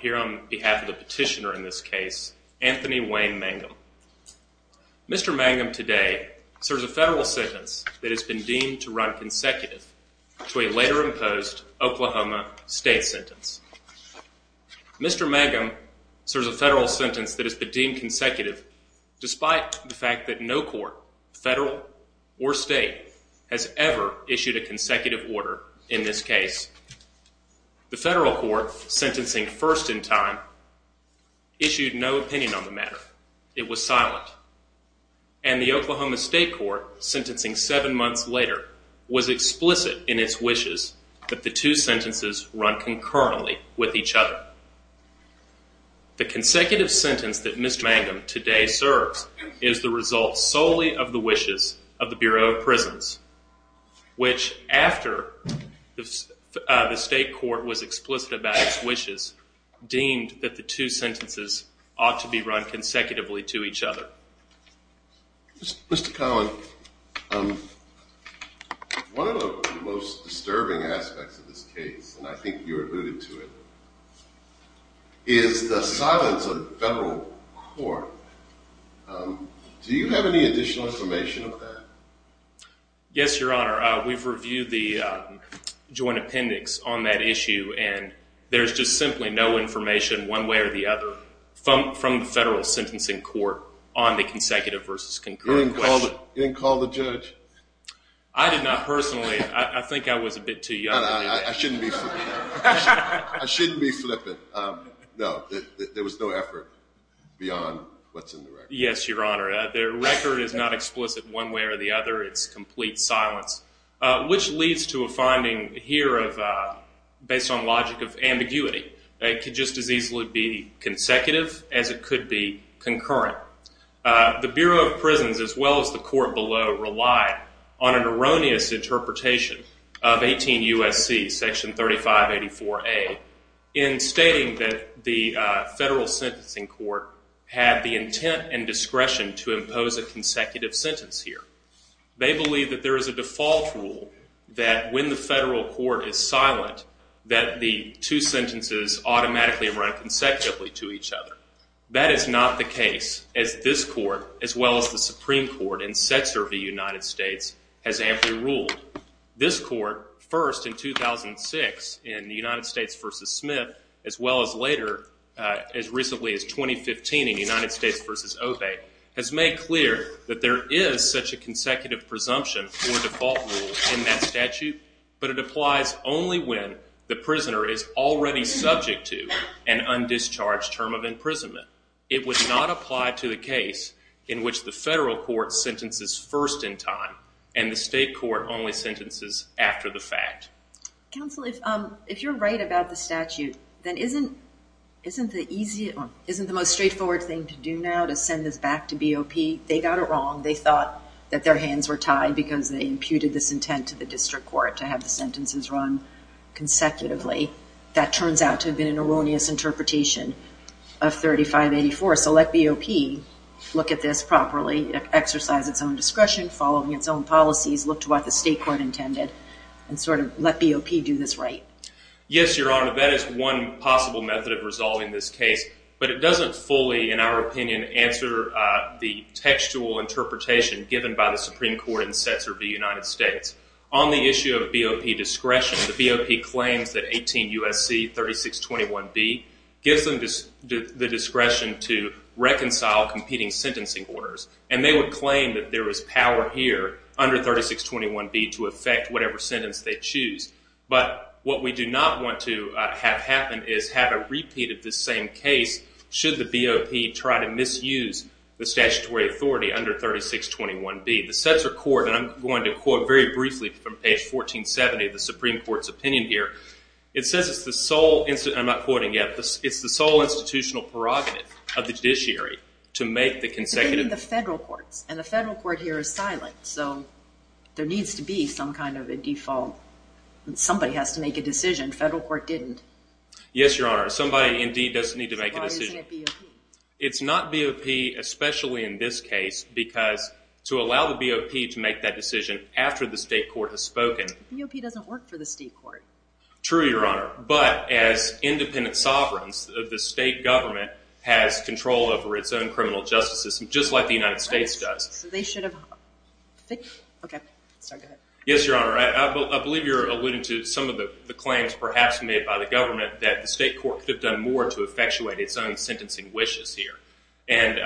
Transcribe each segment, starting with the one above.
Here on behalf of the petitioner in this case, Anthony Wayne Mangum. Mr. Mangum today serves a federal sentence that has been deemed to run consecutive to a later imposed Oklahoma state sentence. Mr. Mangum serves a federal sentence that has been deemed consecutive despite the fact that no court, federal or state, has ever issued a consecutive order in this case. The federal court, sentencing first in time, issued no opinion on the matter. It was silent. And the Oklahoma state court, sentencing seven months later, was explicit in its wishes that the two sentences run concurrently with each other. The consecutive sentence that Mr. Mangum today serves is the result solely of the wishes of the Bureau of Prisons, which, after the state court was explicit about its wishes, deemed that the two sentences ought to be run consecutively to each other. Mr. Collin, one of the most disturbing aspects of this case, and I think you alluded to it, is the silence of the federal court. Do you have any additional information on that? Yes, Your Honor. We've reviewed the joint appendix on that issue, and there's just simply no information one way or the other from the federal sentencing court on the consecutive versus concurrent question. You didn't call the judge? I did not personally. I think I was a bit too young. I shouldn't be flipping. I shouldn't be flipping. No, there was no effort beyond what's in the record. Yes, Your Honor. The record is not explicit one way or the other. It's complete silence, which leads to a finding here based on logic of ambiguity. It could just as easily be consecutive as it could be concurrent. The Bureau of Prisons, as well as the court below, relied on an erroneous interpretation of 18 U.S.C., Section 3584A. In stating that the federal sentencing court had the intent and discretion to impose a consecutive sentence here, they believe that there is a default rule that when the federal court is silent that the two sentences automatically run consecutively to each other. That is not the case, as this court, as well as the Supreme Court, and sets of the United States, has amply ruled. This court, first in 2006 in the United States v. Smith, as well as later as recently as 2015 in United States v. Obey, has made clear that there is such a consecutive presumption for default rule in that statute, but it applies only when the prisoner is already subject to an undischarged term of imprisonment. It would not apply to the case in which the federal court sentences first in time and the state court only sentences after the fact. Counsel, if you're right about the statute, then isn't the most straightforward thing to do now to send this back to BOP? They got it wrong. They thought that their hands were tied because they imputed this intent to the district court to have the sentences run consecutively. That turns out to have been an erroneous interpretation of 3584. So let BOP look at this properly, exercise its own discretion, follow its own policies, look to what the state court intended, and sort of let BOP do this right. Yes, Your Honor, that is one possible method of resolving this case, but it doesn't fully, in our opinion, answer the textual interpretation given by the Supreme Court in the sets of the United States. On the issue of BOP discretion, the BOP claims that 18 U.S.C. 3621B gives them the discretion to reconcile competing sentencing orders, and they would claim that there is power here under 3621B to affect whatever sentence they choose. But what we do not want to have happen is have a repeat of this same case should the BOP try to misuse the statutory authority under 3621B. The sets of court, and I'm going to quote very briefly from page 1470 of the Supreme Court's opinion here, it says it's the sole, and I'm not quoting yet, it's the sole institutional prerogative of the judiciary to make the consecutive We're in the federal courts, and the federal court here is silent, so there needs to be some kind of a default. Somebody has to make a decision. Federal court didn't. Yes, Your Honor, somebody indeed does need to make a decision. Why isn't it BOP? It's not BOP, especially in this case, because to allow the BOP to make that decision after the state court has spoken. BOP doesn't work for the state court. True, Your Honor, but as independent sovereigns of the state government has control over its own criminal justice system, just like the United States does. So they should have... Yes, Your Honor, I believe you're alluding to some of the claims perhaps made by the government that the state court could have done more to effectuate its own sentencing wishes here, and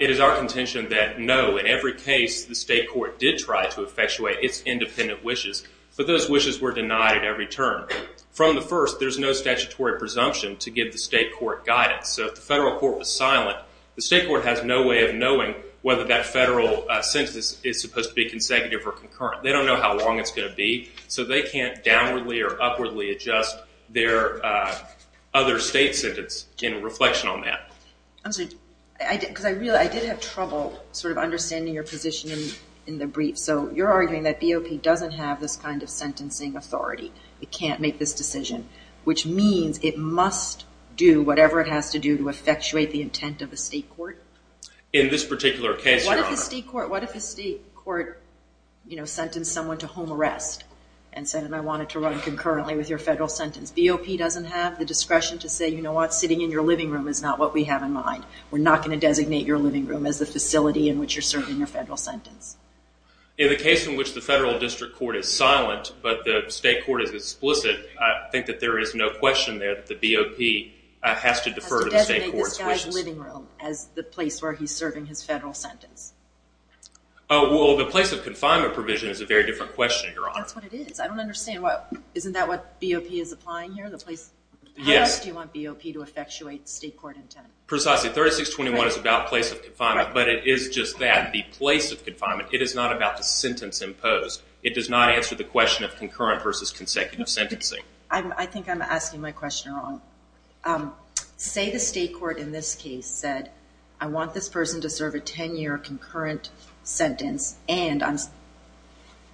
it is our contention that no, in every case, the state court did try to effectuate its independent wishes, but those wishes were denied every term. From the first, there's no statutory presumption to give the state court guidance, so if the federal court was silent, the state court has no way of knowing whether that federal sentence is supposed to be consecutive or concurrent. They don't know how long it's going to be, so they can't downwardly or upwardly adjust their other state sentence in reflection on that. I'm sorry, because I did have trouble sort of understanding your position in the brief. So you're arguing that BOP doesn't have this kind of sentencing authority. It can't make this decision, which means it must do whatever it has to do to effectuate the intent of the state court? In this particular case, Your Honor. What if the state court sentenced someone to home arrest and said, I want it to run concurrently with your federal sentence? BOP doesn't have the discretion to say, you know what, sitting in your living room is not what we have in mind. We're not going to designate your living room as the facility in which you're serving your federal sentence. In the case in which the federal district court is silent but the state court is explicit, I think that there is no question there that the BOP has to defer to the state court. Has to designate this guy's living room as the place where he's serving his federal sentence. Oh, well, the place of confinement provision is a very different question, Your Honor. That's what it is. I don't understand. Isn't that what BOP is applying here? Yes. How else do you want BOP to effectuate state court intent? Precisely. 3621 is about place of confinement, but it is just that, the place of confinement. It is not about the sentence imposed. It does not answer the question of concurrent versus consecutive sentencing. I think I'm asking my question wrong. Say the state court in this case said, I want this person to serve a 10-year concurrent sentence and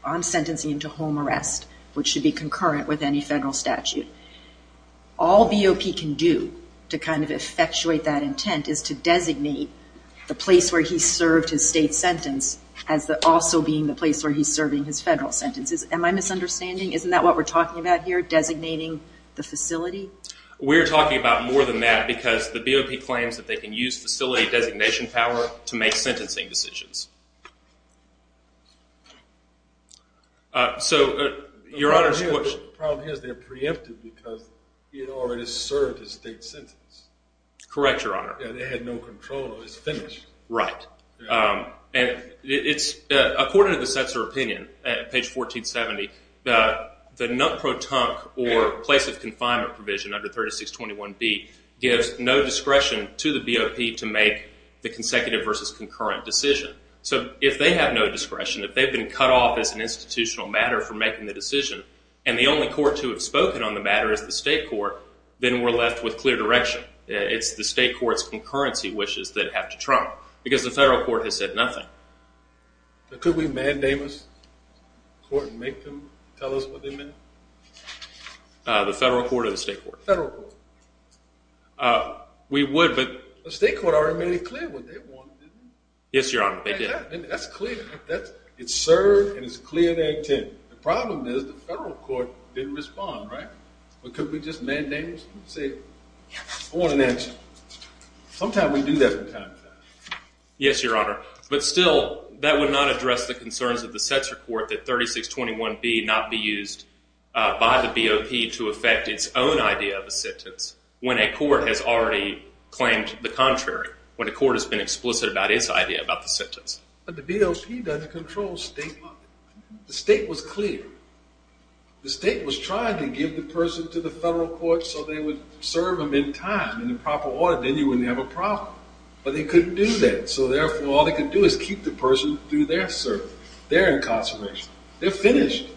I'm sentencing him to home arrest, which should be concurrent with any federal statute. All BOP can do to kind of effectuate that intent is to designate the place where he served his state sentence as also being the place where he's serving his federal sentences. Am I misunderstanding? Isn't that what we're talking about here, designating the facility? We're talking about more than that because the BOP claims that they can use facility designation power to make sentencing decisions. So, Your Honor's question. The problem is they're preemptive because he had already served his state sentence. Correct, Your Honor. And they had no control of his finish. Right. According to the Setzer opinion, page 1470, the non-protonque or place of confinement provision under 3621B gives no discretion to the BOP to make the consecutive versus concurrent decision. So, if they have no discretion, if they've been cut off as an institutional matter for making the decision and the only court to have spoken on the matter is the state court, then we're left with clear direction. It's the state court's concurrency wishes that have to trump because the federal court has said nothing. Could we mandamus the court and make them tell us what they meant? The federal court or the state court? The federal court. We would, but… The state court already made it clear what they wanted, didn't it? Yes, Your Honor, they did. That's clear. It's served and it's clear they intend. The problem is the federal court didn't respond, right? Could we just mandamus them and say, I want an answer? Sometimes we do that from time to time. Yes, Your Honor, but still that would not address the concerns of the Setzer court that 3621B not be used by the BOP to affect its own idea of a sentence when a court has already claimed the contrary, when a court has been explicit about its idea about the sentence. But the BOP doesn't control state law. The state was clear. The state was trying to give the person to the federal court so they would serve them in time, in the proper order. Then you wouldn't have a problem. But they couldn't do that. So, therefore, all they could do is keep the person through their service, their incarceration. They're finished.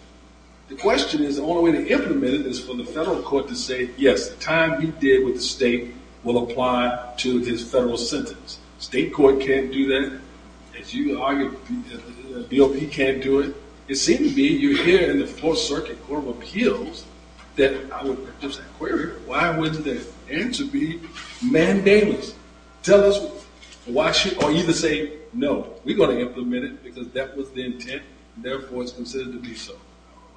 The question is the only way to implement it is for the federal court to say, yes, the time he did with the state will apply to his federal sentence. State court can't do that. As you argued, BOP can't do it. It seems to me you hear in the Fourth Circuit Court of Appeals that I would just inquire, why wouldn't it? And to be mandamus, tell us why should we either say no, we're going to implement it because that was the intent, and therefore it's considered to be so.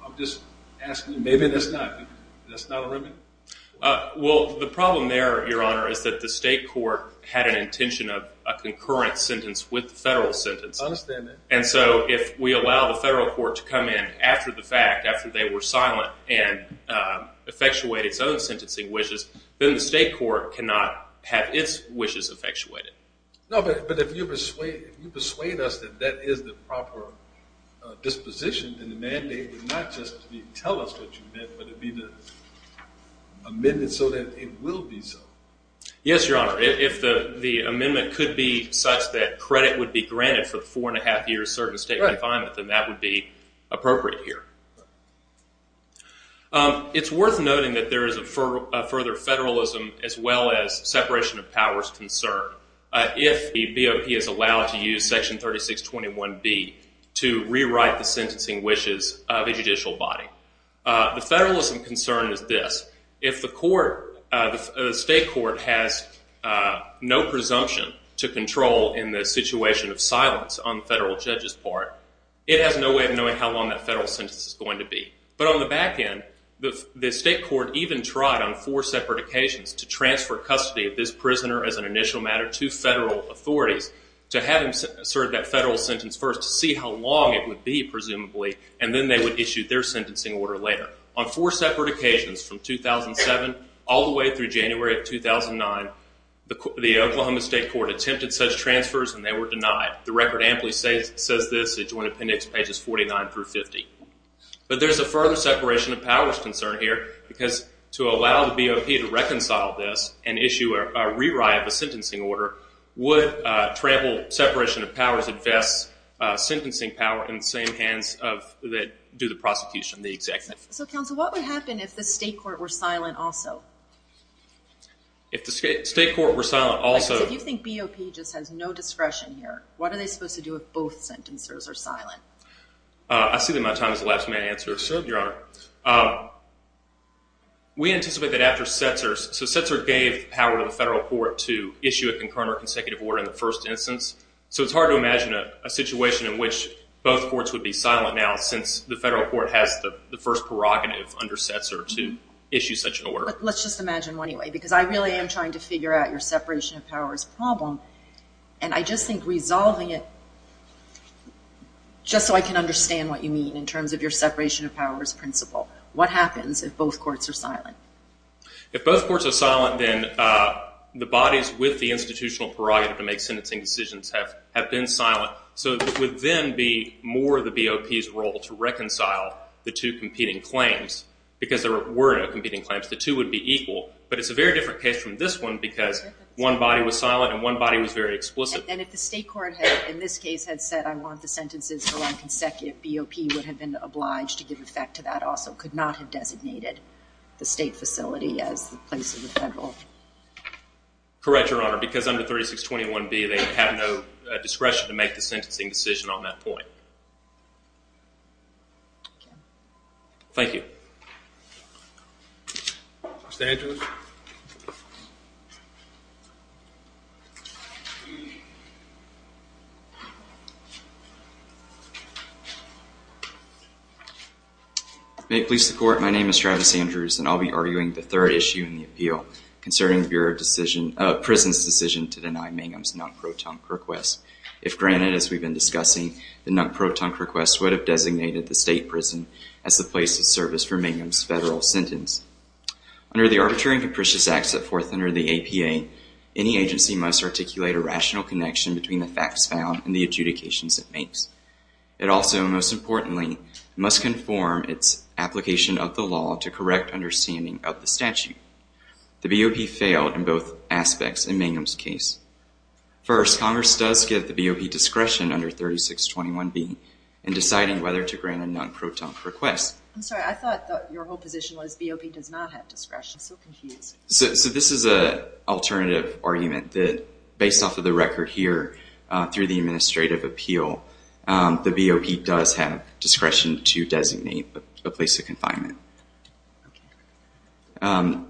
I'm just asking. Maybe that's not a remedy. Well, the problem there, Your Honor, is that the state court had an intention of a concurrent sentence with the federal sentence. I understand that. And so if we allow the federal court to come in after the fact, after they were silent, and effectuate its own sentencing wishes, then the state court cannot have its wishes effectuated. No, but if you persuade us that that is the proper disposition in the mandate, not just to tell us what you meant, but to be the amendment so that it will be so. Yes, Your Honor. If the amendment could be such that credit would be granted for the four and a half years served in state confinement, then that would be appropriate here. It's worth noting that there is a further federalism as well as separation of powers concern if the BOP is allowed to use Section 3621B to rewrite the sentencing wishes of a judicial body. The federalism concern is this. If the state court has no presumption to control in the situation of silence on the federal judge's part, it has no way of knowing how long that federal sentence is going to be. But on the back end, the state court even tried, on four separate occasions, to transfer custody of this prisoner as an initial matter to federal authorities to have him serve that federal sentence first to see how long it would be, presumably, and then they would issue their sentencing order later. On four separate occasions from 2007 all the way through January of 2009, the Oklahoma State Court attempted such transfers and they were denied. The record amply says this in Joint Appendix pages 49 through 50. But there's a further separation of powers concern here because to allow the BOP to reconcile this and issue a rewrite of a sentencing order would trample separation of powers sentencing power in the same hands that do the prosecution, the executive. So, counsel, what would happen if the state court were silent also? If the state court were silent also? If you think BOP just has no discretion here, what are they supposed to do if both sentencers are silent? I see that my time has elapsed. May I answer? Certainly, Your Honor. We anticipate that after Setzer, so Setzer gave power to the federal court to issue a concurrent or consecutive order in the first instance. So it's hard to imagine a situation in which both courts would be silent now since the federal court has the first prerogative under Setzer to issue such an order. Let's just imagine one anyway because I really am trying to figure out your separation of powers problem and I just think resolving it, just so I can understand what you mean in terms of your separation of powers principle, what happens if both courts are silent? If both courts are silent then the bodies with the institutional prerogative to make sentencing decisions have been silent. So it would then be more the BOP's role to reconcile the two competing claims because there were no competing claims. The two would be equal, but it's a very different case from this one because one body was silent and one body was very explicit. And if the state court had, in this case, had said, I want the sentences to run consecutive, BOP would have been obliged to give effect to that also, could not have designated the state facility as the place of the federal. Correct, Your Honor. Because under 3621B they have no discretion to make the sentencing decision on that point. Thank you. Mr. Andrews. May it please the court, my name is Travis Andrews and I'll be arguing the third issue in the appeal concerning the prison's decision to deny Mangum's non-protonque request. If granted, as we've been discussing, the non-protonque request would have designated the state prison as the place of service for Mangum's federal sentence. Under the Arbitrary and Capricious Act set forth under the APA, any agency must articulate a rational connection between the facts found and the adjudications it makes. It also, most importantly, must conform its application of the law to correct understanding of the statute. The BOP failed in both aspects in Mangum's case. First, Congress does give the BOP discretion under 3621B in deciding whether to grant a non-protonque request. I'm sorry, I thought your whole position was BOP does not have discretion. I'm so confused. So this is an alternative argument that, based off of the record here, through the administrative appeal, the BOP does have discretion to designate a place of confinement.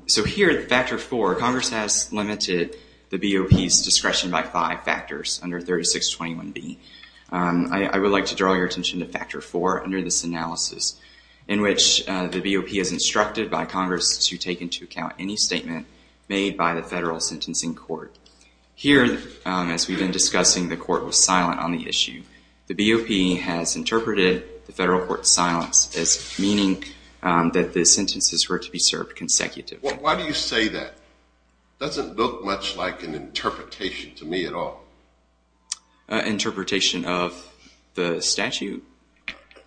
So here at Factor 4, Congress has limited the BOP's discretion by five factors under 3621B. I would like to draw your attention to Factor 4 under this analysis, in which the BOP is instructed by Congress to take into account any statement made by the federal sentencing court. Here, as we've been discussing, the court was silent on the issue. The BOP has interpreted the federal court's silence as meaning that the sentences were to be served consecutively. Why do you say that? That doesn't look much like an interpretation to me at all. Interpretation of the statute?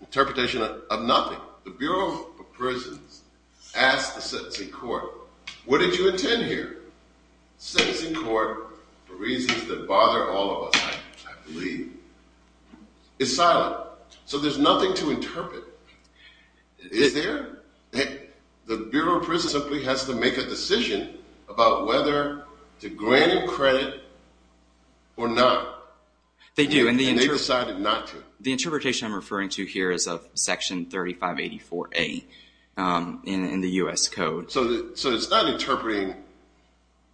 Interpretation of nothing. The Bureau of Prisons asked the sentencing court, what did you intend here? Sentencing court, for reasons that bother all of us, I believe, is silent. So there's nothing to interpret. Is there? The Bureau of Prisons simply has to make a decision about whether to grant him credit or not. They do. And they decided not to. The interpretation I'm referring to here is of Section 3584A in the U.S. Code. So it's not interpreting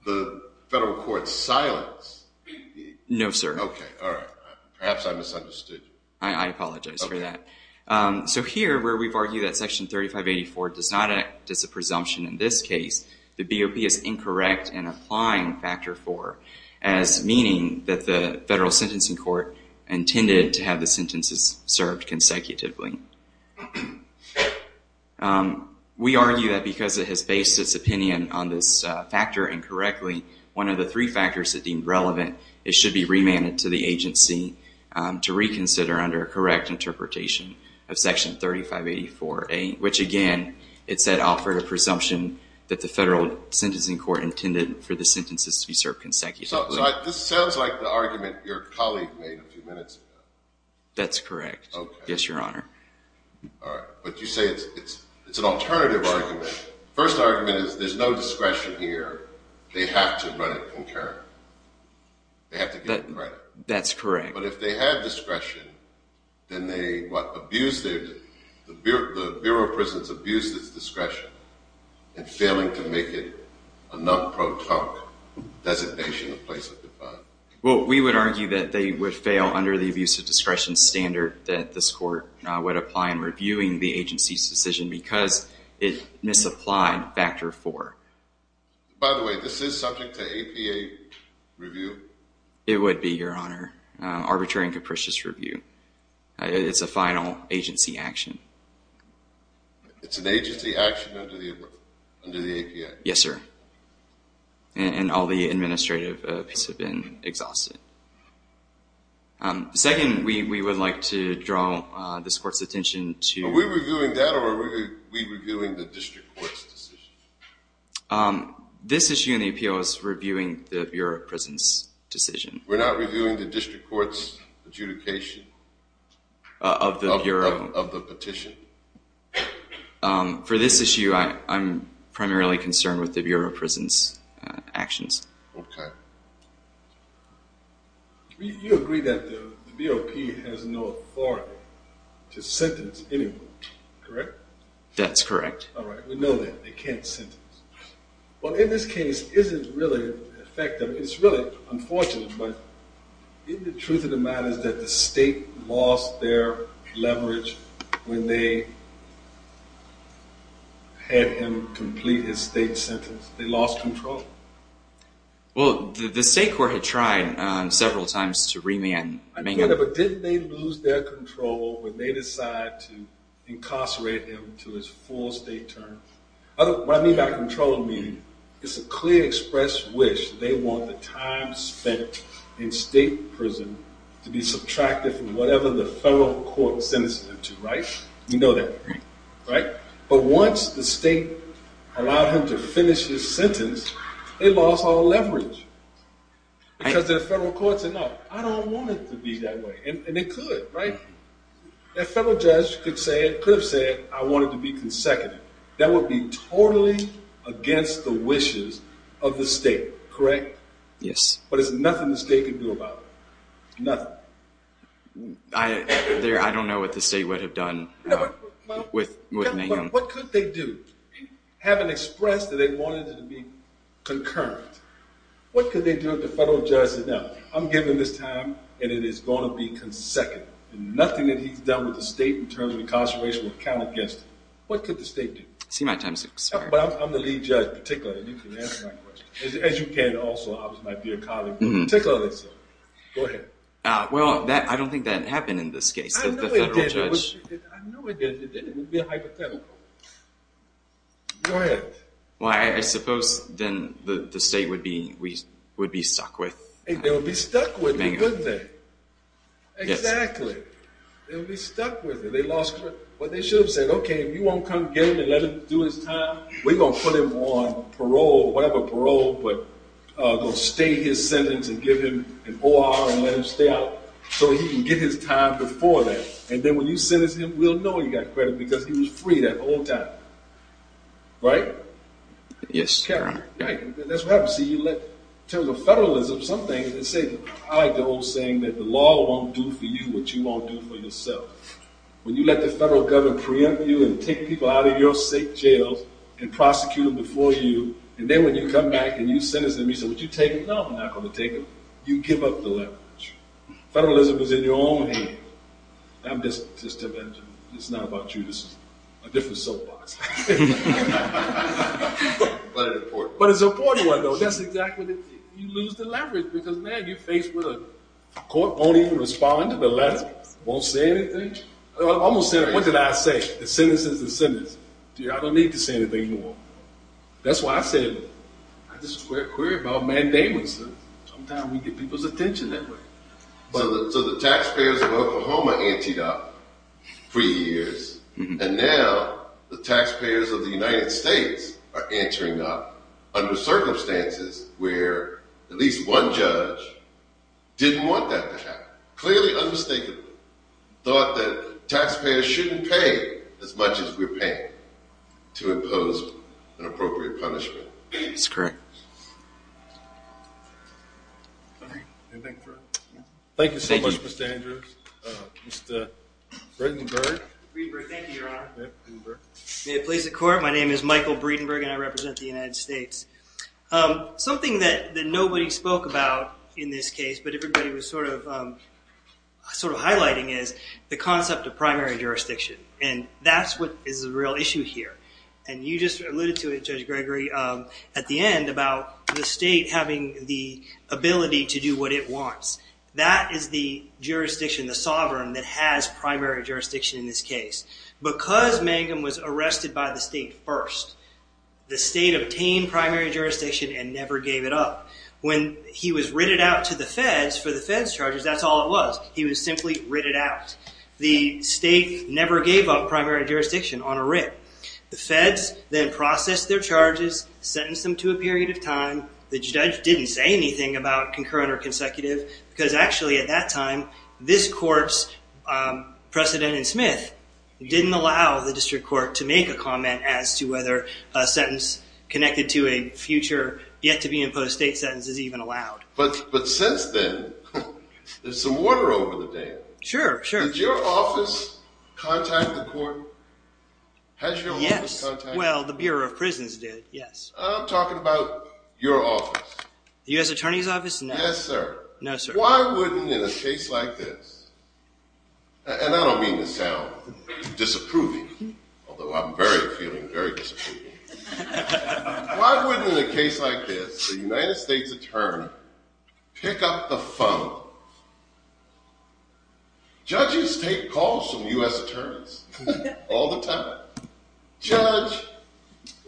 the federal court's silence. No, sir. Okay, all right. Perhaps I misunderstood. I apologize for that. So here, where we've argued that Section 3584 does not act as a presumption in this case, the BOP is incorrect in applying Factor IV as meaning that the federal sentencing court intended to have the sentences served consecutively. We argue that because it has based its opinion on this factor incorrectly, one of the three factors that deemed relevant, it should be remanded to the agency to reconsider under a correct interpretation of Section 3584A, which, again, it said offered a presumption that the federal sentencing court intended for the sentences to be served consecutively. So this sounds like the argument your colleague made a few minutes ago. That's correct. Okay. Yes, Your Honor. All right. But you say it's an alternative argument. Well, the first argument is there's no discretion here. They have to run it concurrently. They have to get credit. That's correct. But if they had discretion, then they, what, abused their discretion? The Bureau of Prisons abused its discretion in failing to make it a non-protonic designation in the place of defiance. Well, we would argue that they would fail under the abuse of discretion standard that this court would apply in reviewing the agency's decision because it misapplied factor four. By the way, this is subject to APA review? It would be, Your Honor. Arbitrary and capricious review. It's a final agency action. It's an agency action under the APA? Yes, sir. And all the administrative pieces have been exhausted. Second, we would like to draw this court's attention to Are we reviewing that or are we reviewing the district court's decision? This issue in the appeal is reviewing the Bureau of Prisons' decision. We're not reviewing the district court's adjudication? Of the Bureau. Of the petition? For this issue, I'm primarily concerned with the Bureau of Prisons' actions. Okay. You agree that the BOP has no authority to sentence anyone, correct? That's correct. All right. We know that. They can't sentence. Well, in this case, is it really effective? It's really unfortunate, but isn't the truth of the matter that the state lost their leverage when they had him complete his state sentence? They lost control. Well, the state court had tried several times to remand Mayhem. But didn't they lose their control when they decided to incarcerate him to his full state term? What I mean by control, I mean it's a clear expressed wish. They want the time spent in state prison to be subtracted from whatever the federal court sentenced him to, right? You know that, right? But once the state allowed him to finish his sentence, they lost all leverage. Because their federal courts said, no, I don't want it to be that way. And they could, right? That federal judge could have said, I want it to be consecutive. That would be totally against the wishes of the state, correct? Yes. But there's nothing the state can do about it. Nothing. I don't know what the state would have done with Mayhem. What could they do? Having expressed that they wanted it to be concurrent, what could they do if the federal judge said, now, I'm giving this time, and it is going to be consecutive. And nothing that he's done with the state in terms of incarceration will count against it. What could the state do? I see my time's expired. But I'm the lead judge, particularly. And you can answer my question. As you can also. I was my dear colleague. Go ahead. Well, I don't think that happened in this case, the federal judge. I know it did. It would be a hypothetical. Go ahead. Well, I suppose then the state would be stuck with Mayhem. They would be stuck with it, wouldn't they? Exactly. They would be stuck with it. But they should have said, OK, if you won't come get him and let him do his time, we're going to put him on parole, whatever parole, but we're going to state his sentence and give him an O.R. and let him stay out so he can get his time before that. And then when you sentence him, we'll know he got credit because he was free that whole time. Right? Yes. Right. That's what happens. See, you let, in terms of federalism, some things, let's say, I like the old saying that the law won't do for you what you won't do for yourself. When you let the federal government preempt you and take people out of your state jails and prosecute them before you, and then when you come back and you sentence them, you say, would you take them? No, I'm not going to take them. You give up the leverage. Federalism is in your own hand. I'm just telling that to you. It's not about you. This is a different soapbox. But an important one. But it's an important one, though. That's exactly the thing. You lose the leverage because, man, you're faced with a court won't even respond to the letter, won't say anything. What did I say? The sentence is the sentence. I don't need to say anything more. That's why I said it. I just worry about mandamus. Sometimes we get people's attention that way. So the taxpayers of Oklahoma anted up for years, and now the taxpayers of the United States are answering up under circumstances where at least one judge didn't want that to happen. Clearly, unmistakably, thought that taxpayers shouldn't pay as much as we're paying to impose an appropriate punishment. That's correct. Thank you so much, Mr. Andrews. Mr. Breedenburg. Breedenburg, thank you, Your Honor. May it please the Court. My name is Michael Breedenburg, and I represent the United States. Something that nobody spoke about in this case, but everybody was sort of highlighting is the concept of primary jurisdiction, and that's what is the real issue here. And you just alluded to it, Judge Gregory, at the end about the state having the ability to do what it wants. That is the jurisdiction, the sovereign, that has primary jurisdiction in this case. Because Mangum was arrested by the state first, the state obtained primary jurisdiction and never gave it up. When he was written out to the feds for the feds' charges, that's all it was. He was simply written out. The state never gave up primary jurisdiction on a writ. The feds then processed their charges, sentenced them to a period of time. The judge didn't say anything about concurrent or consecutive, because actually at that time, this court's precedent in Smith didn't allow the district court to make a comment as to whether a sentence connected to a future yet-to-be-imposed state sentence is even allowed. But since then, there's some order over the day. Sure, sure. Did your office contact the court? Yes. Has your office contacted them? Well, the Bureau of Prisons did, yes. I'm talking about your office. The U.S. Attorney's Office? No. Yes, sir. No, sir. Why wouldn't, in a case like this, and I don't mean to sound disapproving, although I'm very feeling very disapproving. Why wouldn't, in a case like this, the United States Attorney pick up the phone? Judges take calls from U.S. Attorneys all the time. Judge,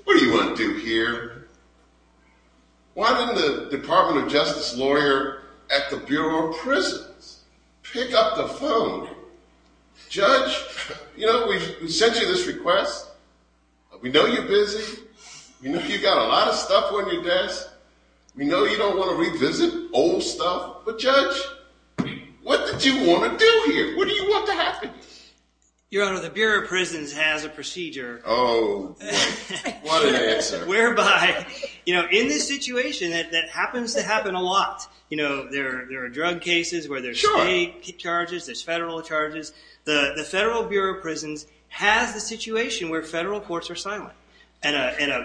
what do you want to do here? Why didn't the Department of Justice lawyer at the Bureau of Prisons pick up the phone? Judge, you know, we sent you this request. We know you're busy. We know you've got a lot of stuff on your desk. We know you don't want to revisit old stuff, but Judge, what did you want to do here? What do you want to happen? Your Honor, the Bureau of Prisons has a procedure. Oh, what an answer. Whereby, you know, in this situation that happens to happen a lot, you know, there are drug cases where there's state charges, there's federal charges. The Federal Bureau of Prisons has a situation where federal courts are silent. And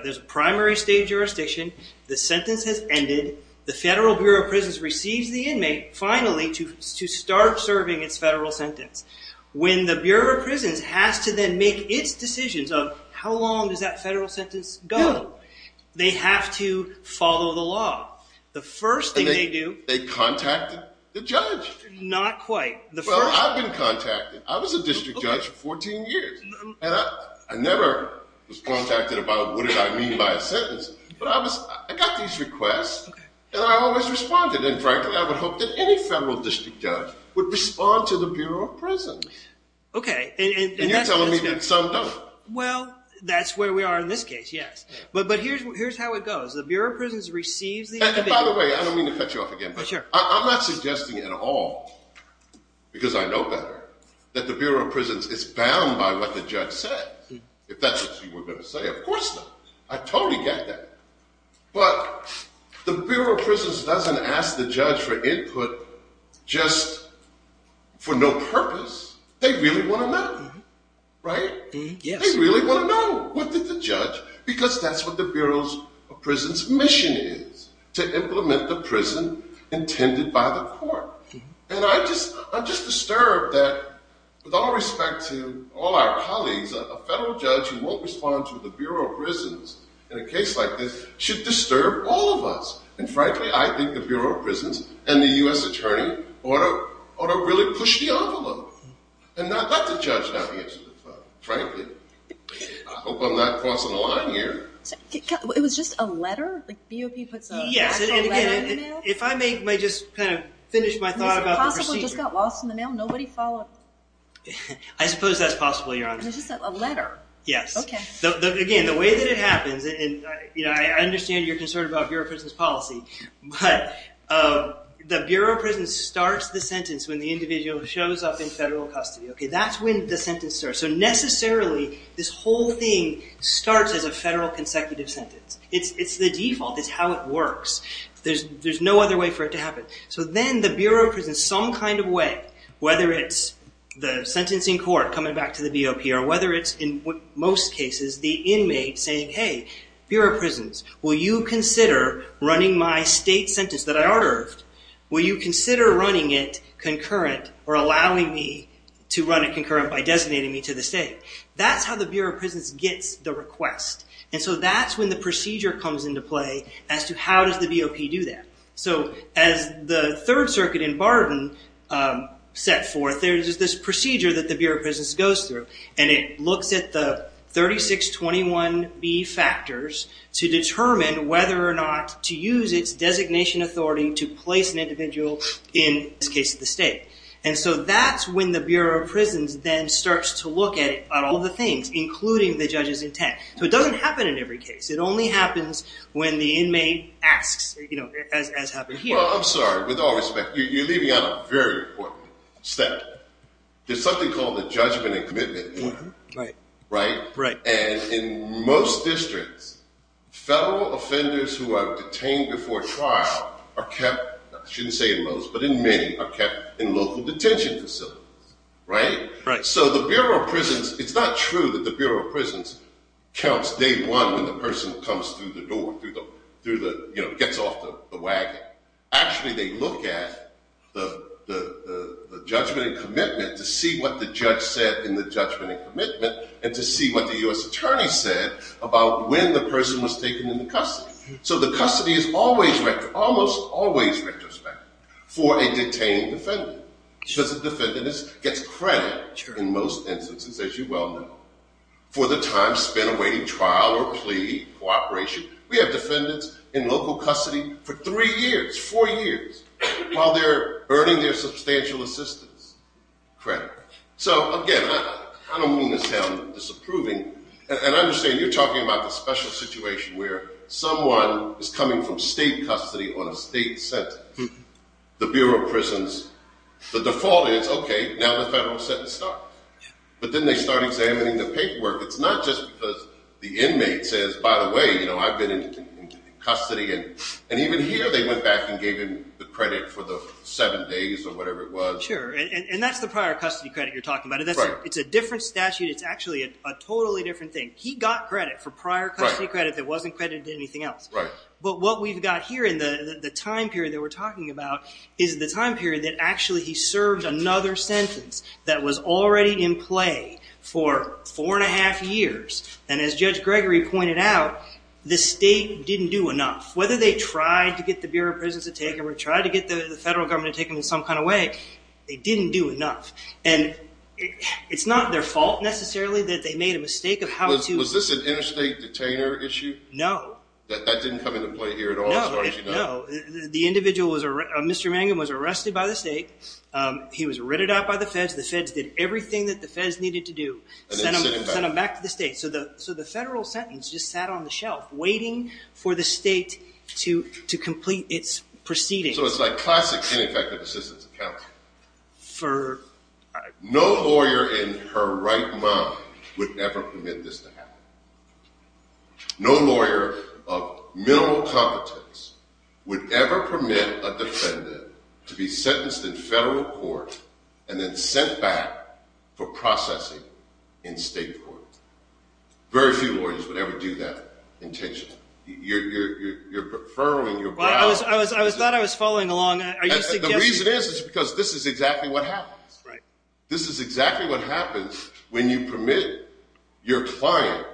there's a primary state jurisdiction. The sentence has ended. The Federal Bureau of Prisons receives the inmate finally to start serving its federal sentence. When the Bureau of Prisons has to then make its decisions of how long does that federal sentence go, they have to follow the law. The first thing they do… And they contacted the judge. Not quite. Well, I've been contacted. I was a district judge for 14 years. But I got these requests, and I always responded. And frankly, I would hope that any federal district judge would respond to the Bureau of Prisons. Okay. And you're telling me that some don't. Well, that's where we are in this case, yes. But here's how it goes. The Bureau of Prisons receives the inmate. By the way, I don't mean to cut you off again. But I'm not suggesting at all, because I know better, that the Bureau of Prisons is bound by what the judge said. If that's what you were going to say, of course not. I totally get that. But the Bureau of Prisons doesn't ask the judge for input just for no purpose. They really want to know. Right? Yes. They really want to know. What did the judge… Because that's what the Bureau of Prisons' mission is, to implement the prison intended by the court. And I'm just disturbed that, with all respect to all our colleagues, a federal judge who won't respond to the Bureau of Prisons in a case like this should disturb all of us. And frankly, I think the Bureau of Prisons and the U.S. Attorney ought to really push the envelope. And not let the judge navigate through the phone, frankly. I hope I'm not crossing the line here. It was just a letter? BOP puts an actual letter in there? If I may just kind of finish my thought about the procedure. Is it possible it just got lost in the mail? Nobody followed? I suppose that's possible, Your Honor. It was just a letter? Yes. Okay. Again, the way that it happens, and I understand you're concerned about Bureau of Prisons policy, but the Bureau of Prisons starts the sentence when the individual shows up in federal custody. That's when the sentence starts. So necessarily, this whole thing starts as a federal consecutive sentence. It's the default. It's how it works. There's no other way for it to happen. So then the Bureau of Prisons, some kind of way, whether it's the sentencing court coming back to the BOP, or whether it's, in most cases, the inmate saying, hey, Bureau of Prisons, will you consider running my state sentence that I ordered? Will you consider running it concurrent or allowing me to run it concurrent by designating me to the state? That's how the Bureau of Prisons gets the request. And so that's when the procedure comes into play as to how does the BOP do that. So as the Third Circuit in Barton set forth, there's this procedure that the Bureau of Prisons goes through, and it looks at the 3621B factors to determine whether or not to use its designation authority to place an individual in this case, the state. And so that's when the Bureau of Prisons then starts to look at all the things, including the judge's intent. So it doesn't happen in every case. It only happens when the inmate asks, as happened here. Well, I'm sorry. With all respect, you're leaving out a very important step. There's something called a judgment and commitment. Right. And in most districts, federal offenders who are detained before trial are kept, I shouldn't say in most, but in many, are kept in local detention facilities. Right? Right. So the Bureau of Prisons, it's not true that the Bureau of Prisons counts day one when the person comes through the door, gets off the wagon. Actually, they look at the judgment and commitment to see what the judge said in the judgment and commitment and to see what the U.S. attorney said about when the person was taken into custody. So the custody is almost always retrospective for a detained defendant because the defendant gets credit in most instances, as you well know, for the time spent awaiting trial or plea or operation. We have defendants in local custody for three years, four years, while they're earning their substantial assistance credit. So again, I don't mean to sound disapproving. And I understand you're talking about the special situation where someone is coming from state custody on a state sentence. The Bureau of Prisons, the default is, okay, now the federal sentence starts. But then they start examining the paperwork. It's not just because the inmate says, by the way, I've been in custody. And even here they went back and gave him the credit for the seven days or whatever it was. Sure, and that's the prior custody credit you're talking about. Right. It's a different statute. It's actually a totally different thing. He got credit for prior custody credit that wasn't credited to anything else. Right. But what we've got here in the time period that we're talking about is the time period that actually he served another sentence that was already in play for four and a half years. And as Judge Gregory pointed out, the state didn't do enough. Whether they tried to get the Bureau of Prisons to take him or tried to get the federal government to take him in some kind of way, they didn't do enough. And it's not their fault necessarily that they made a mistake of how to... Was this an interstate detainer issue? No. That didn't come into play here at all as far as you know? No. The individual was arrested. Mr. Mangum was arrested by the state. He was ridded out by the feds. The feds did everything that the feds needed to do. And then sent him back. Sent him back to the state. So the federal sentence just sat on the shelf waiting for the state to complete its proceedings. So it's like classic ineffective assistance account. No lawyer in her right mind would ever permit this to happen. No lawyer of minimal competence would ever permit a defendant to be sentenced in federal court and then sent back for processing in state court. Very few lawyers would ever do that intentionally. You're furrowing your brow... I thought I was following along. The reason is because this is exactly what happens. This is exactly what happens when you permit your client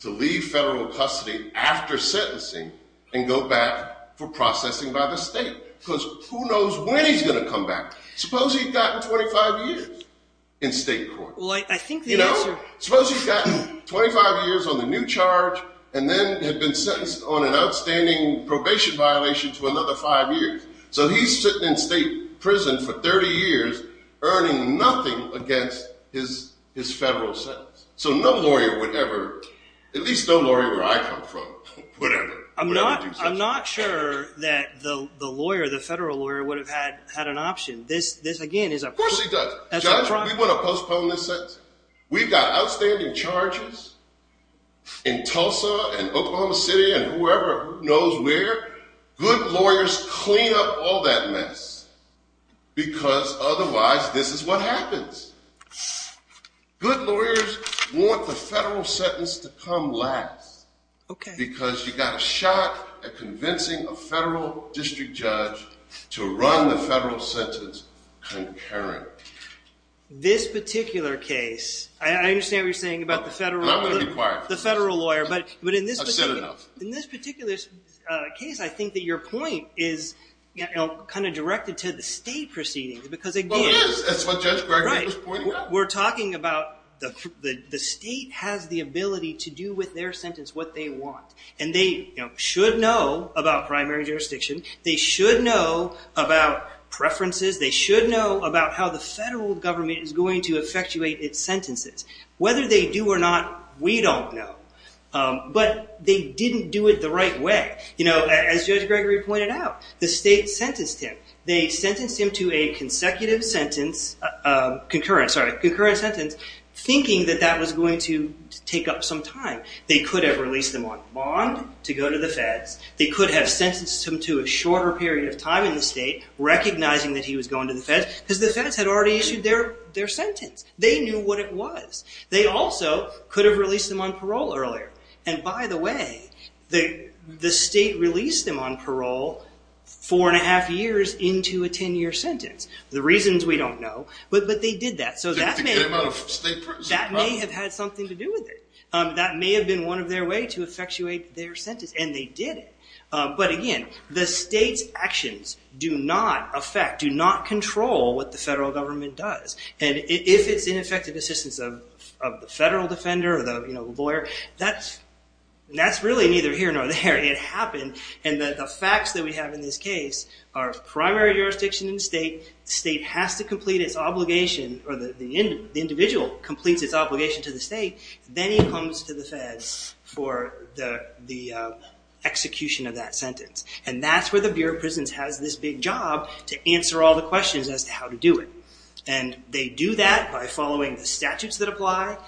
to leave federal custody after sentencing and go back for processing by the state. Because who knows when he's going to come back? Suppose he's gotten 25 years in state court. Well, I think the answer... Suppose he's gotten 25 years on the new charge and then had been sentenced on an outstanding probation violation for another five years. So he's sitting in state prison for 30 years earning nothing against his federal sentence. So no lawyer would ever, at least no lawyer where I come from, would ever do such a thing. I'm not sure that the lawyer, the federal lawyer, would have had an option. This, again, is a... Of course he does. Judge, we want to postpone this sentence. We've got outstanding charges in Tulsa and Oklahoma City and whoever knows where. Good lawyers clean up all that mess because otherwise this is what happens. Good lawyers want the federal sentence to come last because you've got a shot at convincing a federal district judge to run the federal sentence concurrently. This particular case, I understand what you're saying about the federal... I'm going to be quiet. The federal lawyer, but in this... I've said enough. In this particular case, I think that your point is kind of directed to the state proceedings because, again... Well, it is. That's what Judge Gregg was pointing out. We're talking about the state has the ability to do with their sentence what they want. And they should know about primary jurisdiction. They should know about preferences. They should know about how the federal government is going to effectuate its sentences. Whether they do or not, we don't know. But they didn't do it the right way. As Judge Gregory pointed out, the state sentenced him. They sentenced him to a consecutive sentence, concurrent, sorry, concurrent sentence thinking that that was going to take up some time. They could have released him on bond to go to the feds. They could have sentenced him to a shorter period of time in the state recognizing that he was going to the feds because the feds had already issued their sentence. They knew what it was. They also could have released him on parole earlier. And, by the way, the state released him on parole four and a half years into a 10-year sentence. The reasons we don't know. But they did that. So that may... They came out of state prison. That may have had something to do with it. That may have been one of their ways to effectuate their sentence. And they did it. But, again, the state's actions do not affect, do not control what the federal government does. And if it's ineffective assistance of the federal defender or the lawyer, that's really neither here nor there. It happened. And the facts that we have in this case are primary jurisdiction in the state. The state has to complete its obligation or the individual completes its obligation to the state. Then he comes to the feds for the execution of that sentence. And that's where the Bureau of Prisons has this big job to answer all the questions as to how to do it. And they do that by following the statutes that apply,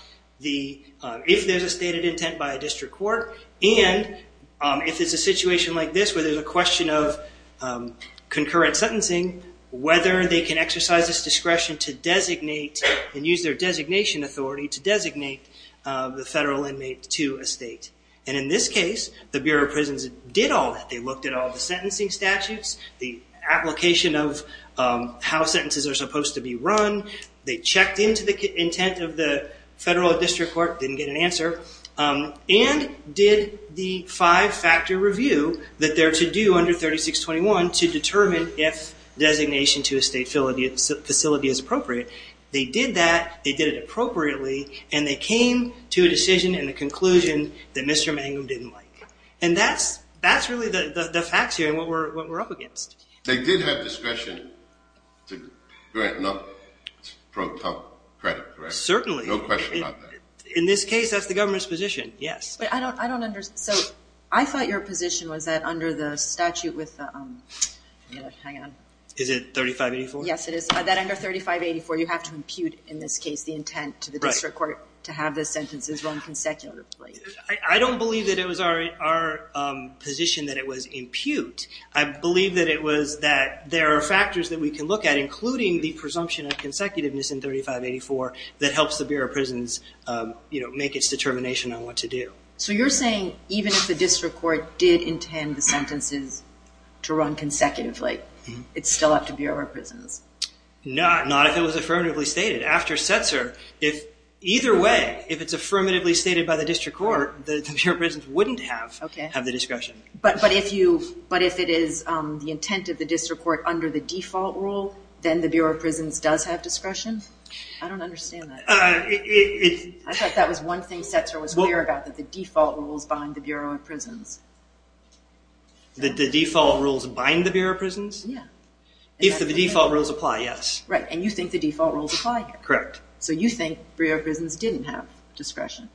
if there's a stated intent by a district court, and if it's a situation like this where there's a question of concurrent sentencing, whether they can exercise this discretion to designate and use their designation authority to designate the federal inmate to a state. And in this case, the Bureau of Prisons did all that. They looked at all the sentencing statutes, the application of how sentences are supposed to be run. They checked into the intent of the federal district court, didn't get an answer, and did the five-factor review that they're to do under 3621 to determine if designation to a state facility is appropriate. They did that. They did it appropriately. And they came to a decision and a conclusion that Mr. Mangum didn't like. And that's really the facts here and what we're up against. They did have discretion to grant enough pro-cum credit, correct? Certainly. No question about that. In this case, that's the government's position, yes. But I don't understand. So I thought your position was that under the statute with the – hang on. Is it 3584? Yes, it is. That under 3584, you have to impute, in this case, the intent to the district court to have the sentences run consecutively. I don't believe that it was our position that it was impute. I believe that it was that there are factors that we can look at, including the presumption of consecutiveness in 3584, that helps the Bureau of Prisons make its determination on what to do. So you're saying even if the district court did intend the sentences to run consecutively, it's still up to Bureau of Prisons? Not if it was affirmatively stated. After Setzer, either way, if it's affirmatively stated by the district court, the Bureau of Prisons wouldn't have the discretion. But if it is the intent of the district court under the default rule, then the Bureau of Prisons does have discretion? I don't understand that. I thought that was one thing Setzer was clear about, that the default rules bind the Bureau of Prisons. The default rules bind the Bureau of Prisons? Yeah. If the default rules apply, yes. Right, and you think the default rules apply here? Correct. So you think Bureau of Prisons didn't have discretion?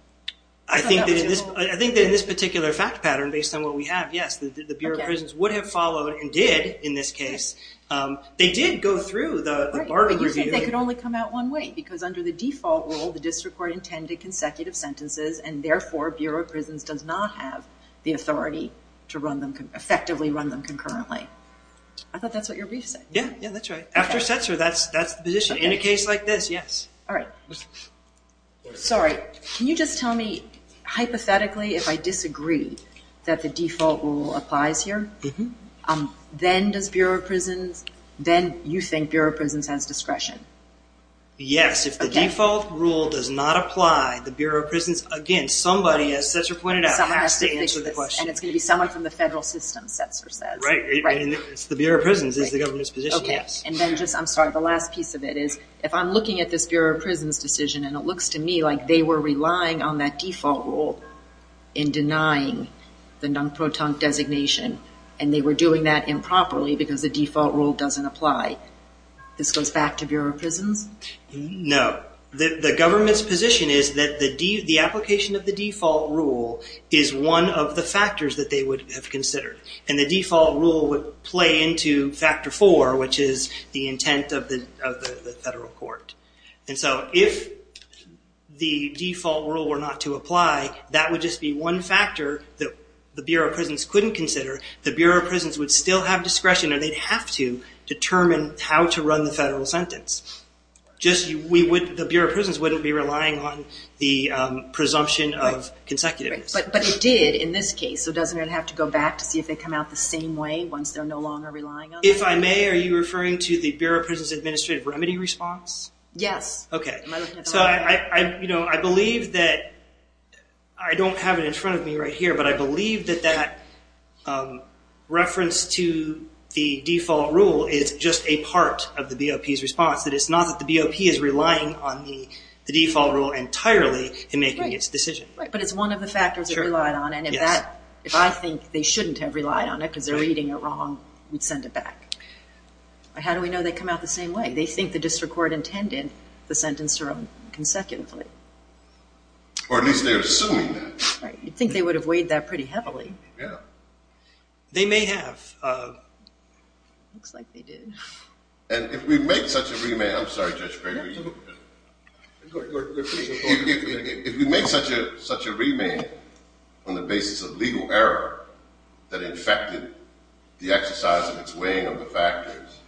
I think that in this particular fact pattern, based on what we have, yes, the Bureau of Prisons would have followed and did in this case. They did go through the Bargain Review. But you think they could only come out one way, because under the default rule, the district court intended consecutive sentences, and therefore Bureau of Prisons does not have the authority to effectively run them concurrently. I thought that's what your brief said. Yeah, that's right. After Setzer, that's the position. In a case like this, yes. All right. Sorry, can you just tell me, hypothetically, if I disagree that the default rule applies here, then you think Bureau of Prisons has discretion? Yes. If the default rule does not apply, the Bureau of Prisons, again, somebody, as Setzer pointed out, has to answer the question. And it's going to be someone from the federal system, Setzer says. Right. It's the Bureau of Prisons. It's the government's position, yes. Okay. And then just, I'm sorry, the last piece of it is, if I'm looking at this Bureau of Prisons decision, and it looks to me like they were relying on that default rule in denying the non-proton designation, and they were doing that improperly because the default rule doesn't apply, this goes back to Bureau of Prisons? No. The government's position is that the application of the default rule is one of the factors that they would have considered. And the default rule would play into factor four, which is the intent of the federal court. And so if the default rule were not to apply, that would just be one factor that the Bureau of Prisons couldn't consider. The Bureau of Prisons would still have discretion, or they'd have to, determine how to run the federal sentence. Just the Bureau of Prisons wouldn't be relying on the presumption of consecutiveness. But it did in this case, so doesn't it have to go back to see if they come out the same way once they're no longer relying on it? If I may, are you referring to the Bureau of Prisons administrative remedy response? Yes. Okay. So I believe that, I don't have it in front of me right here, but I believe that that reference to the default rule is just a part of the BOP's response, that it's not that the BOP is relying on the default rule entirely in making its decision. But it's one of the factors it relied on, and if that, if I think they shouldn't have relied on it because they're reading it wrong, we'd send it back. How do we know they come out the same way? They think the district court intended the sentence to run consecutively. Or at least they're assuming that. Right. You'd think they would have weighed that pretty heavily. Yeah. They may have. Looks like they did. And if we make such a remand, I'm sorry, Judge Gregory. Go ahead. If we make such a remand on the basis of legal error that infected the exercise of its weighing of the factors,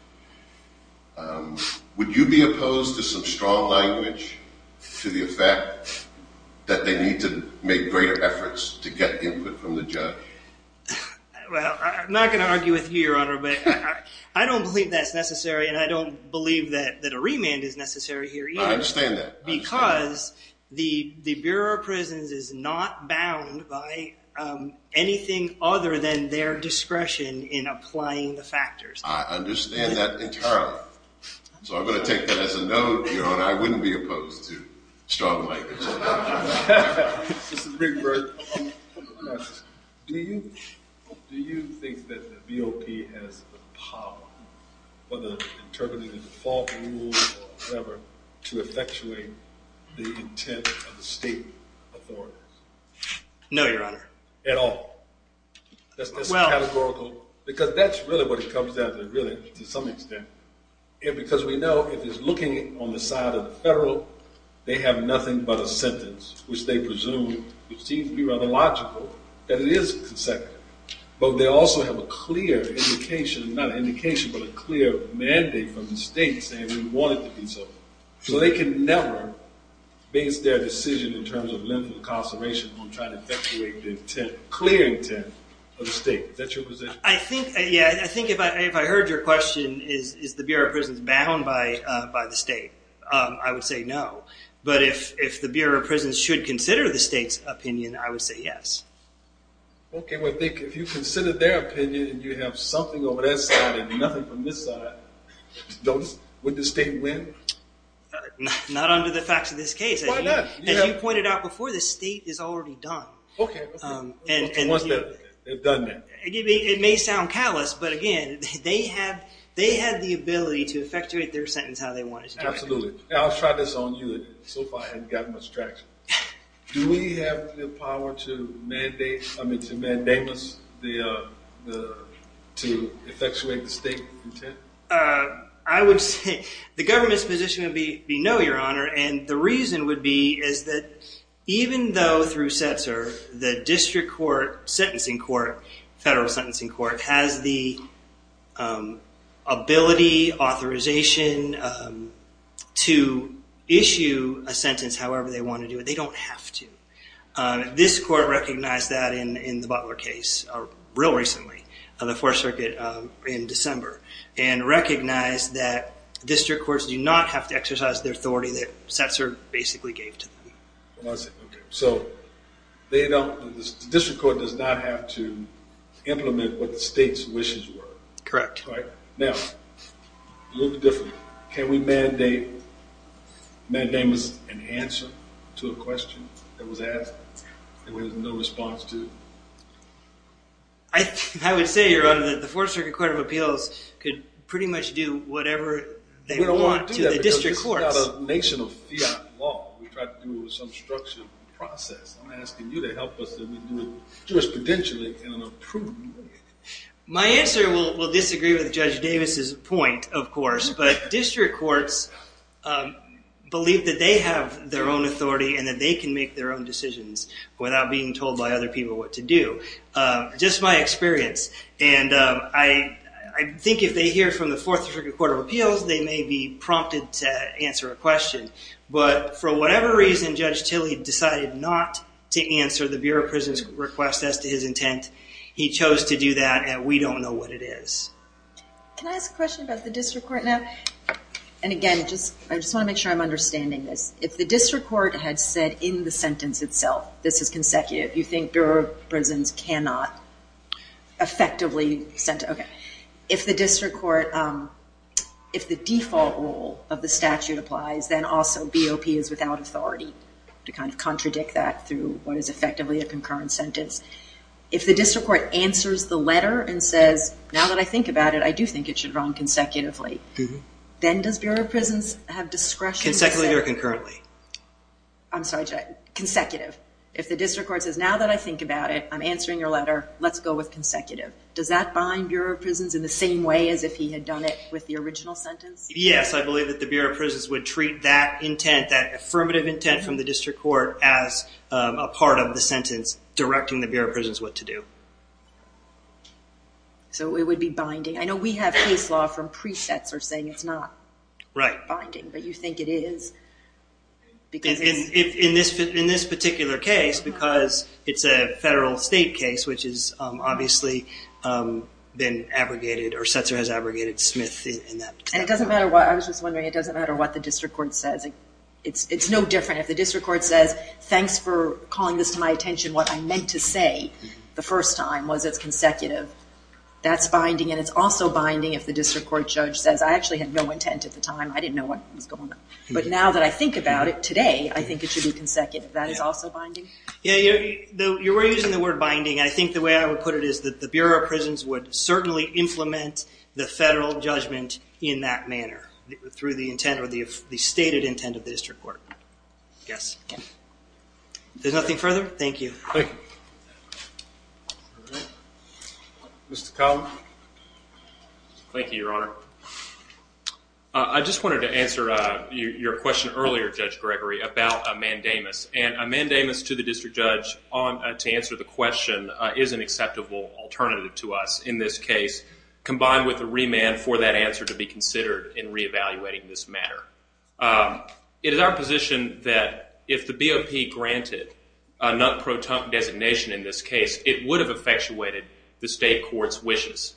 would you be opposed to some strong language to the effect that they need to make greater efforts to get input from the judge? Well, I'm not going to argue with you, Your Honor, but I don't believe that's necessary, and I don't believe that a remand is necessary here either. I understand that. Because the Bureau of Prisons is not bound by anything other than their discretion in applying the factors. I understand that entirely. So I'm going to take that as a no, Your Honor. I wouldn't be opposed to strong language. Mr. Big Bird. Do you think that the BOP has the power, whether interpreting the default rules or whatever, to effectuate the intent of the state authorities? No, Your Honor. At all? Well. That's categorical. Because that's really what it comes down to, really, to some extent. And because we know if it's looking on the side of the federal, they have nothing but a sentence, which they presume would seem to be rather logical, that it is consecutive. But they also have a clear indication, not an indication, but a clear mandate from the state saying we want it to be so. So they can never base their decision in terms of limited incarceration on trying to effectuate the intent, clear intent of the state. Is that your position? Yeah. I think if I heard your question, is the Bureau of Prisons bound by the state, I would say no. But if the Bureau of Prisons should consider the state's opinion, I would say yes. Okay. Well, if you consider their opinion and you have something over that side and nothing from this side, would the state win? Not under the facts of this case. Why not? As you pointed out before, the state is already done. Okay. Once they've done that. It may sound callous, but, again, they had the ability to effectuate their sentence how they wanted to do it. Absolutely. I'll try this on you. So far I haven't gotten much traction. Do we have the power to mandate, I mean to mandate us to effectuate the state intent? I would say the government's position would be no, Your Honor. And the reason would be is that even though through Setzer, the district court sentencing court, federal sentencing court, has the ability, authorization to issue a sentence however they want to do it. They don't have to. This court recognized that in the Butler case real recently, the Fourth Circuit in December, and recognized that district courts do not have to exercise the authority that Setzer basically gave to them. I see. Okay. So they don't, the district court does not have to implement what the state's wishes were. Correct. All right. Now, a little bit different. Can we mandate, mandate us an answer to a question that was asked that we have no response to? I would say, Your Honor, that the Fourth Circuit Court of Appeals could pretty much do whatever they want to the district courts. We don't want to do that because this is not a nation of fiat law. We try to do it with some structured process. I'm asking you to help us that we do it jurisprudentially in an approving way. My answer will disagree with Judge Davis's point, of course, but district courts believe that they have their own authority and that they can make their own decisions without being told by other people what to do. Just my experience. And I think if they hear from the Fourth Circuit Court of Appeals, they may be prompted to answer a question. But for whatever reason, Judge Tilley decided not to answer the Bureau of Prisoners' request as to his intent. He chose to do that, and we don't know what it is. Can I ask a question about the district court now? And again, I just want to make sure I'm understanding this. If the district court had said in the sentence itself, this is consecutive, you think Bureau of Prisons cannot effectively... Okay. If the district court, if the default rule of the statute applies, then also BOP is without authority to kind of contradict that through what is effectively a concurrent sentence. If the district court answers the letter and says, now that I think about it, I do think it should run consecutively, then does Bureau of Prisons have discretion to say... Consecutively or concurrently? I'm sorry, consecutive. If the district court says, now that I think about it, I'm answering your letter, let's go with consecutive, does that bind Bureau of Prisons in the same way as if he had done it with the original sentence? Yes, I believe that the Bureau of Prisons would treat that intent, that affirmative intent from the district court as a part of the sentence directing the Bureau of Prisons what to do. So it would be binding. I know we have case law from pre-Setzer saying it's not binding, but you think it is? In this particular case, because it's a federal state case, which has obviously been abrogated or Setzer has abrogated Smith in that case. I was just wondering, it doesn't matter what the district court says. It's no different if the district court says, thanks for calling this to my attention, what I meant to say the first time was it's consecutive. That's binding, and it's also binding if the district court judge says, I actually had no intent at the time, I didn't know what was going on. But now that I think about it today, I think it should be consecutive. That is also binding? You were using the word binding. I think the way I would put it is that the Bureau of Prisons would certainly implement the federal judgment in that manner, through the stated intent of the district court, I guess. Is there nothing further? Thank you. Mr. Cullen. Thank you, Your Honor. I just wanted to answer your question earlier, Judge Gregory, about a mandamus. And a mandamus to the district judge to answer the question is an acceptable alternative to us in this case, combined with a remand for that answer to be considered in reevaluating this matter. It is our position that if the BOP granted a non-proton designation in this case, it would have effectuated the state court's wishes.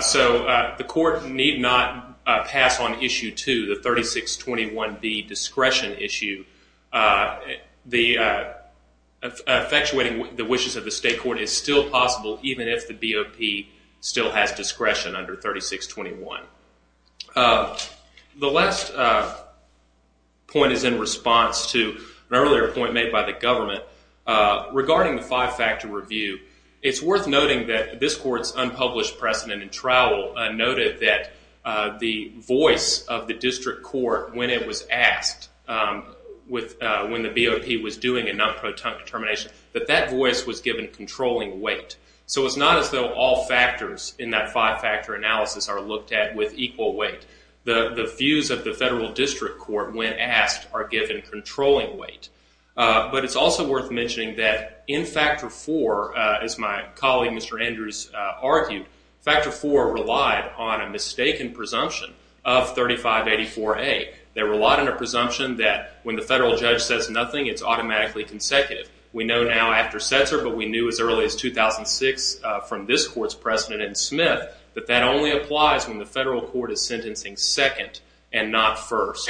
So the court need not pass on Issue 2, the 3621B discretion issue. Effectuating the wishes of the state court is still possible, even if the BOP still has discretion under 3621. The last point is in response to an earlier point made by the government. Regarding the five-factor review, it's worth noting that this court's unpublished precedent in trial noted that the voice of the district court, when it was asked when the BOP was doing a non-proton determination, that that voice was given controlling weight. So it's not as though all factors in that five-factor analysis are looked at with equal weight. The views of the federal district court, when asked, are given controlling weight. But it's also worth mentioning that in Factor 4, as my colleague Mr. Andrews argued, Factor 4 relied on a mistaken presumption of 3584A. They relied on a presumption that when the federal judge says nothing, it's automatically consecutive. We know now after Setzer, but we knew as early as 2006 from this court's precedent in Smith, that that only applies when the federal court is sentencing second and not first.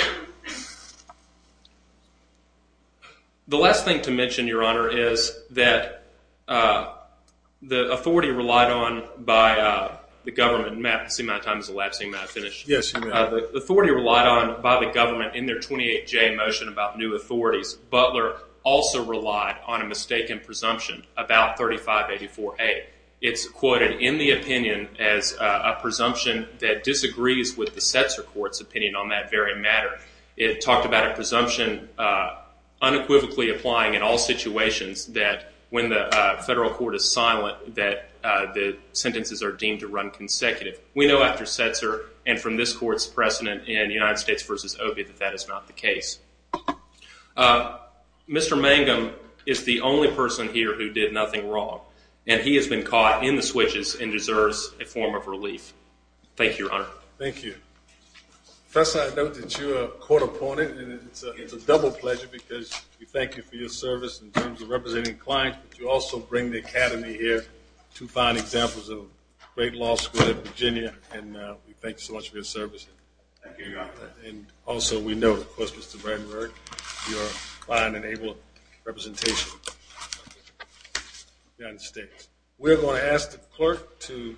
The last thing to mention, Your Honor, is that the authority relied on by the government. Matt, I see my time is elapsing. May I finish? Yes, you may. The authority relied on by the government in their 28J motion about new authorities. Butler also relied on a mistaken presumption about 3584A. It's quoted in the opinion as a presumption that disagrees with the Setzer court's opinion on that very matter. It talked about a presumption unequivocally applying in all situations, that when the federal court is silent, that the sentences are deemed to run consecutive. We know after Setzer and from this court's precedent in United States v. Obie, that that is not the case. Mr. Mangum is the only person here who did nothing wrong, and he has been caught in the switches and deserves a form of relief. Thank you, Your Honor. Thank you. Professor, I note that you're a court opponent, and it's a double pleasure because we thank you for your service in terms of representing clients, but you also bring the academy here to find examples of great law school in Virginia, and we thank you so much for your service. Thank you, Your Honor. And also we note, of course, Mr. Bramberg, your client-enabled representation in the United States. We're going to ask the clerk to...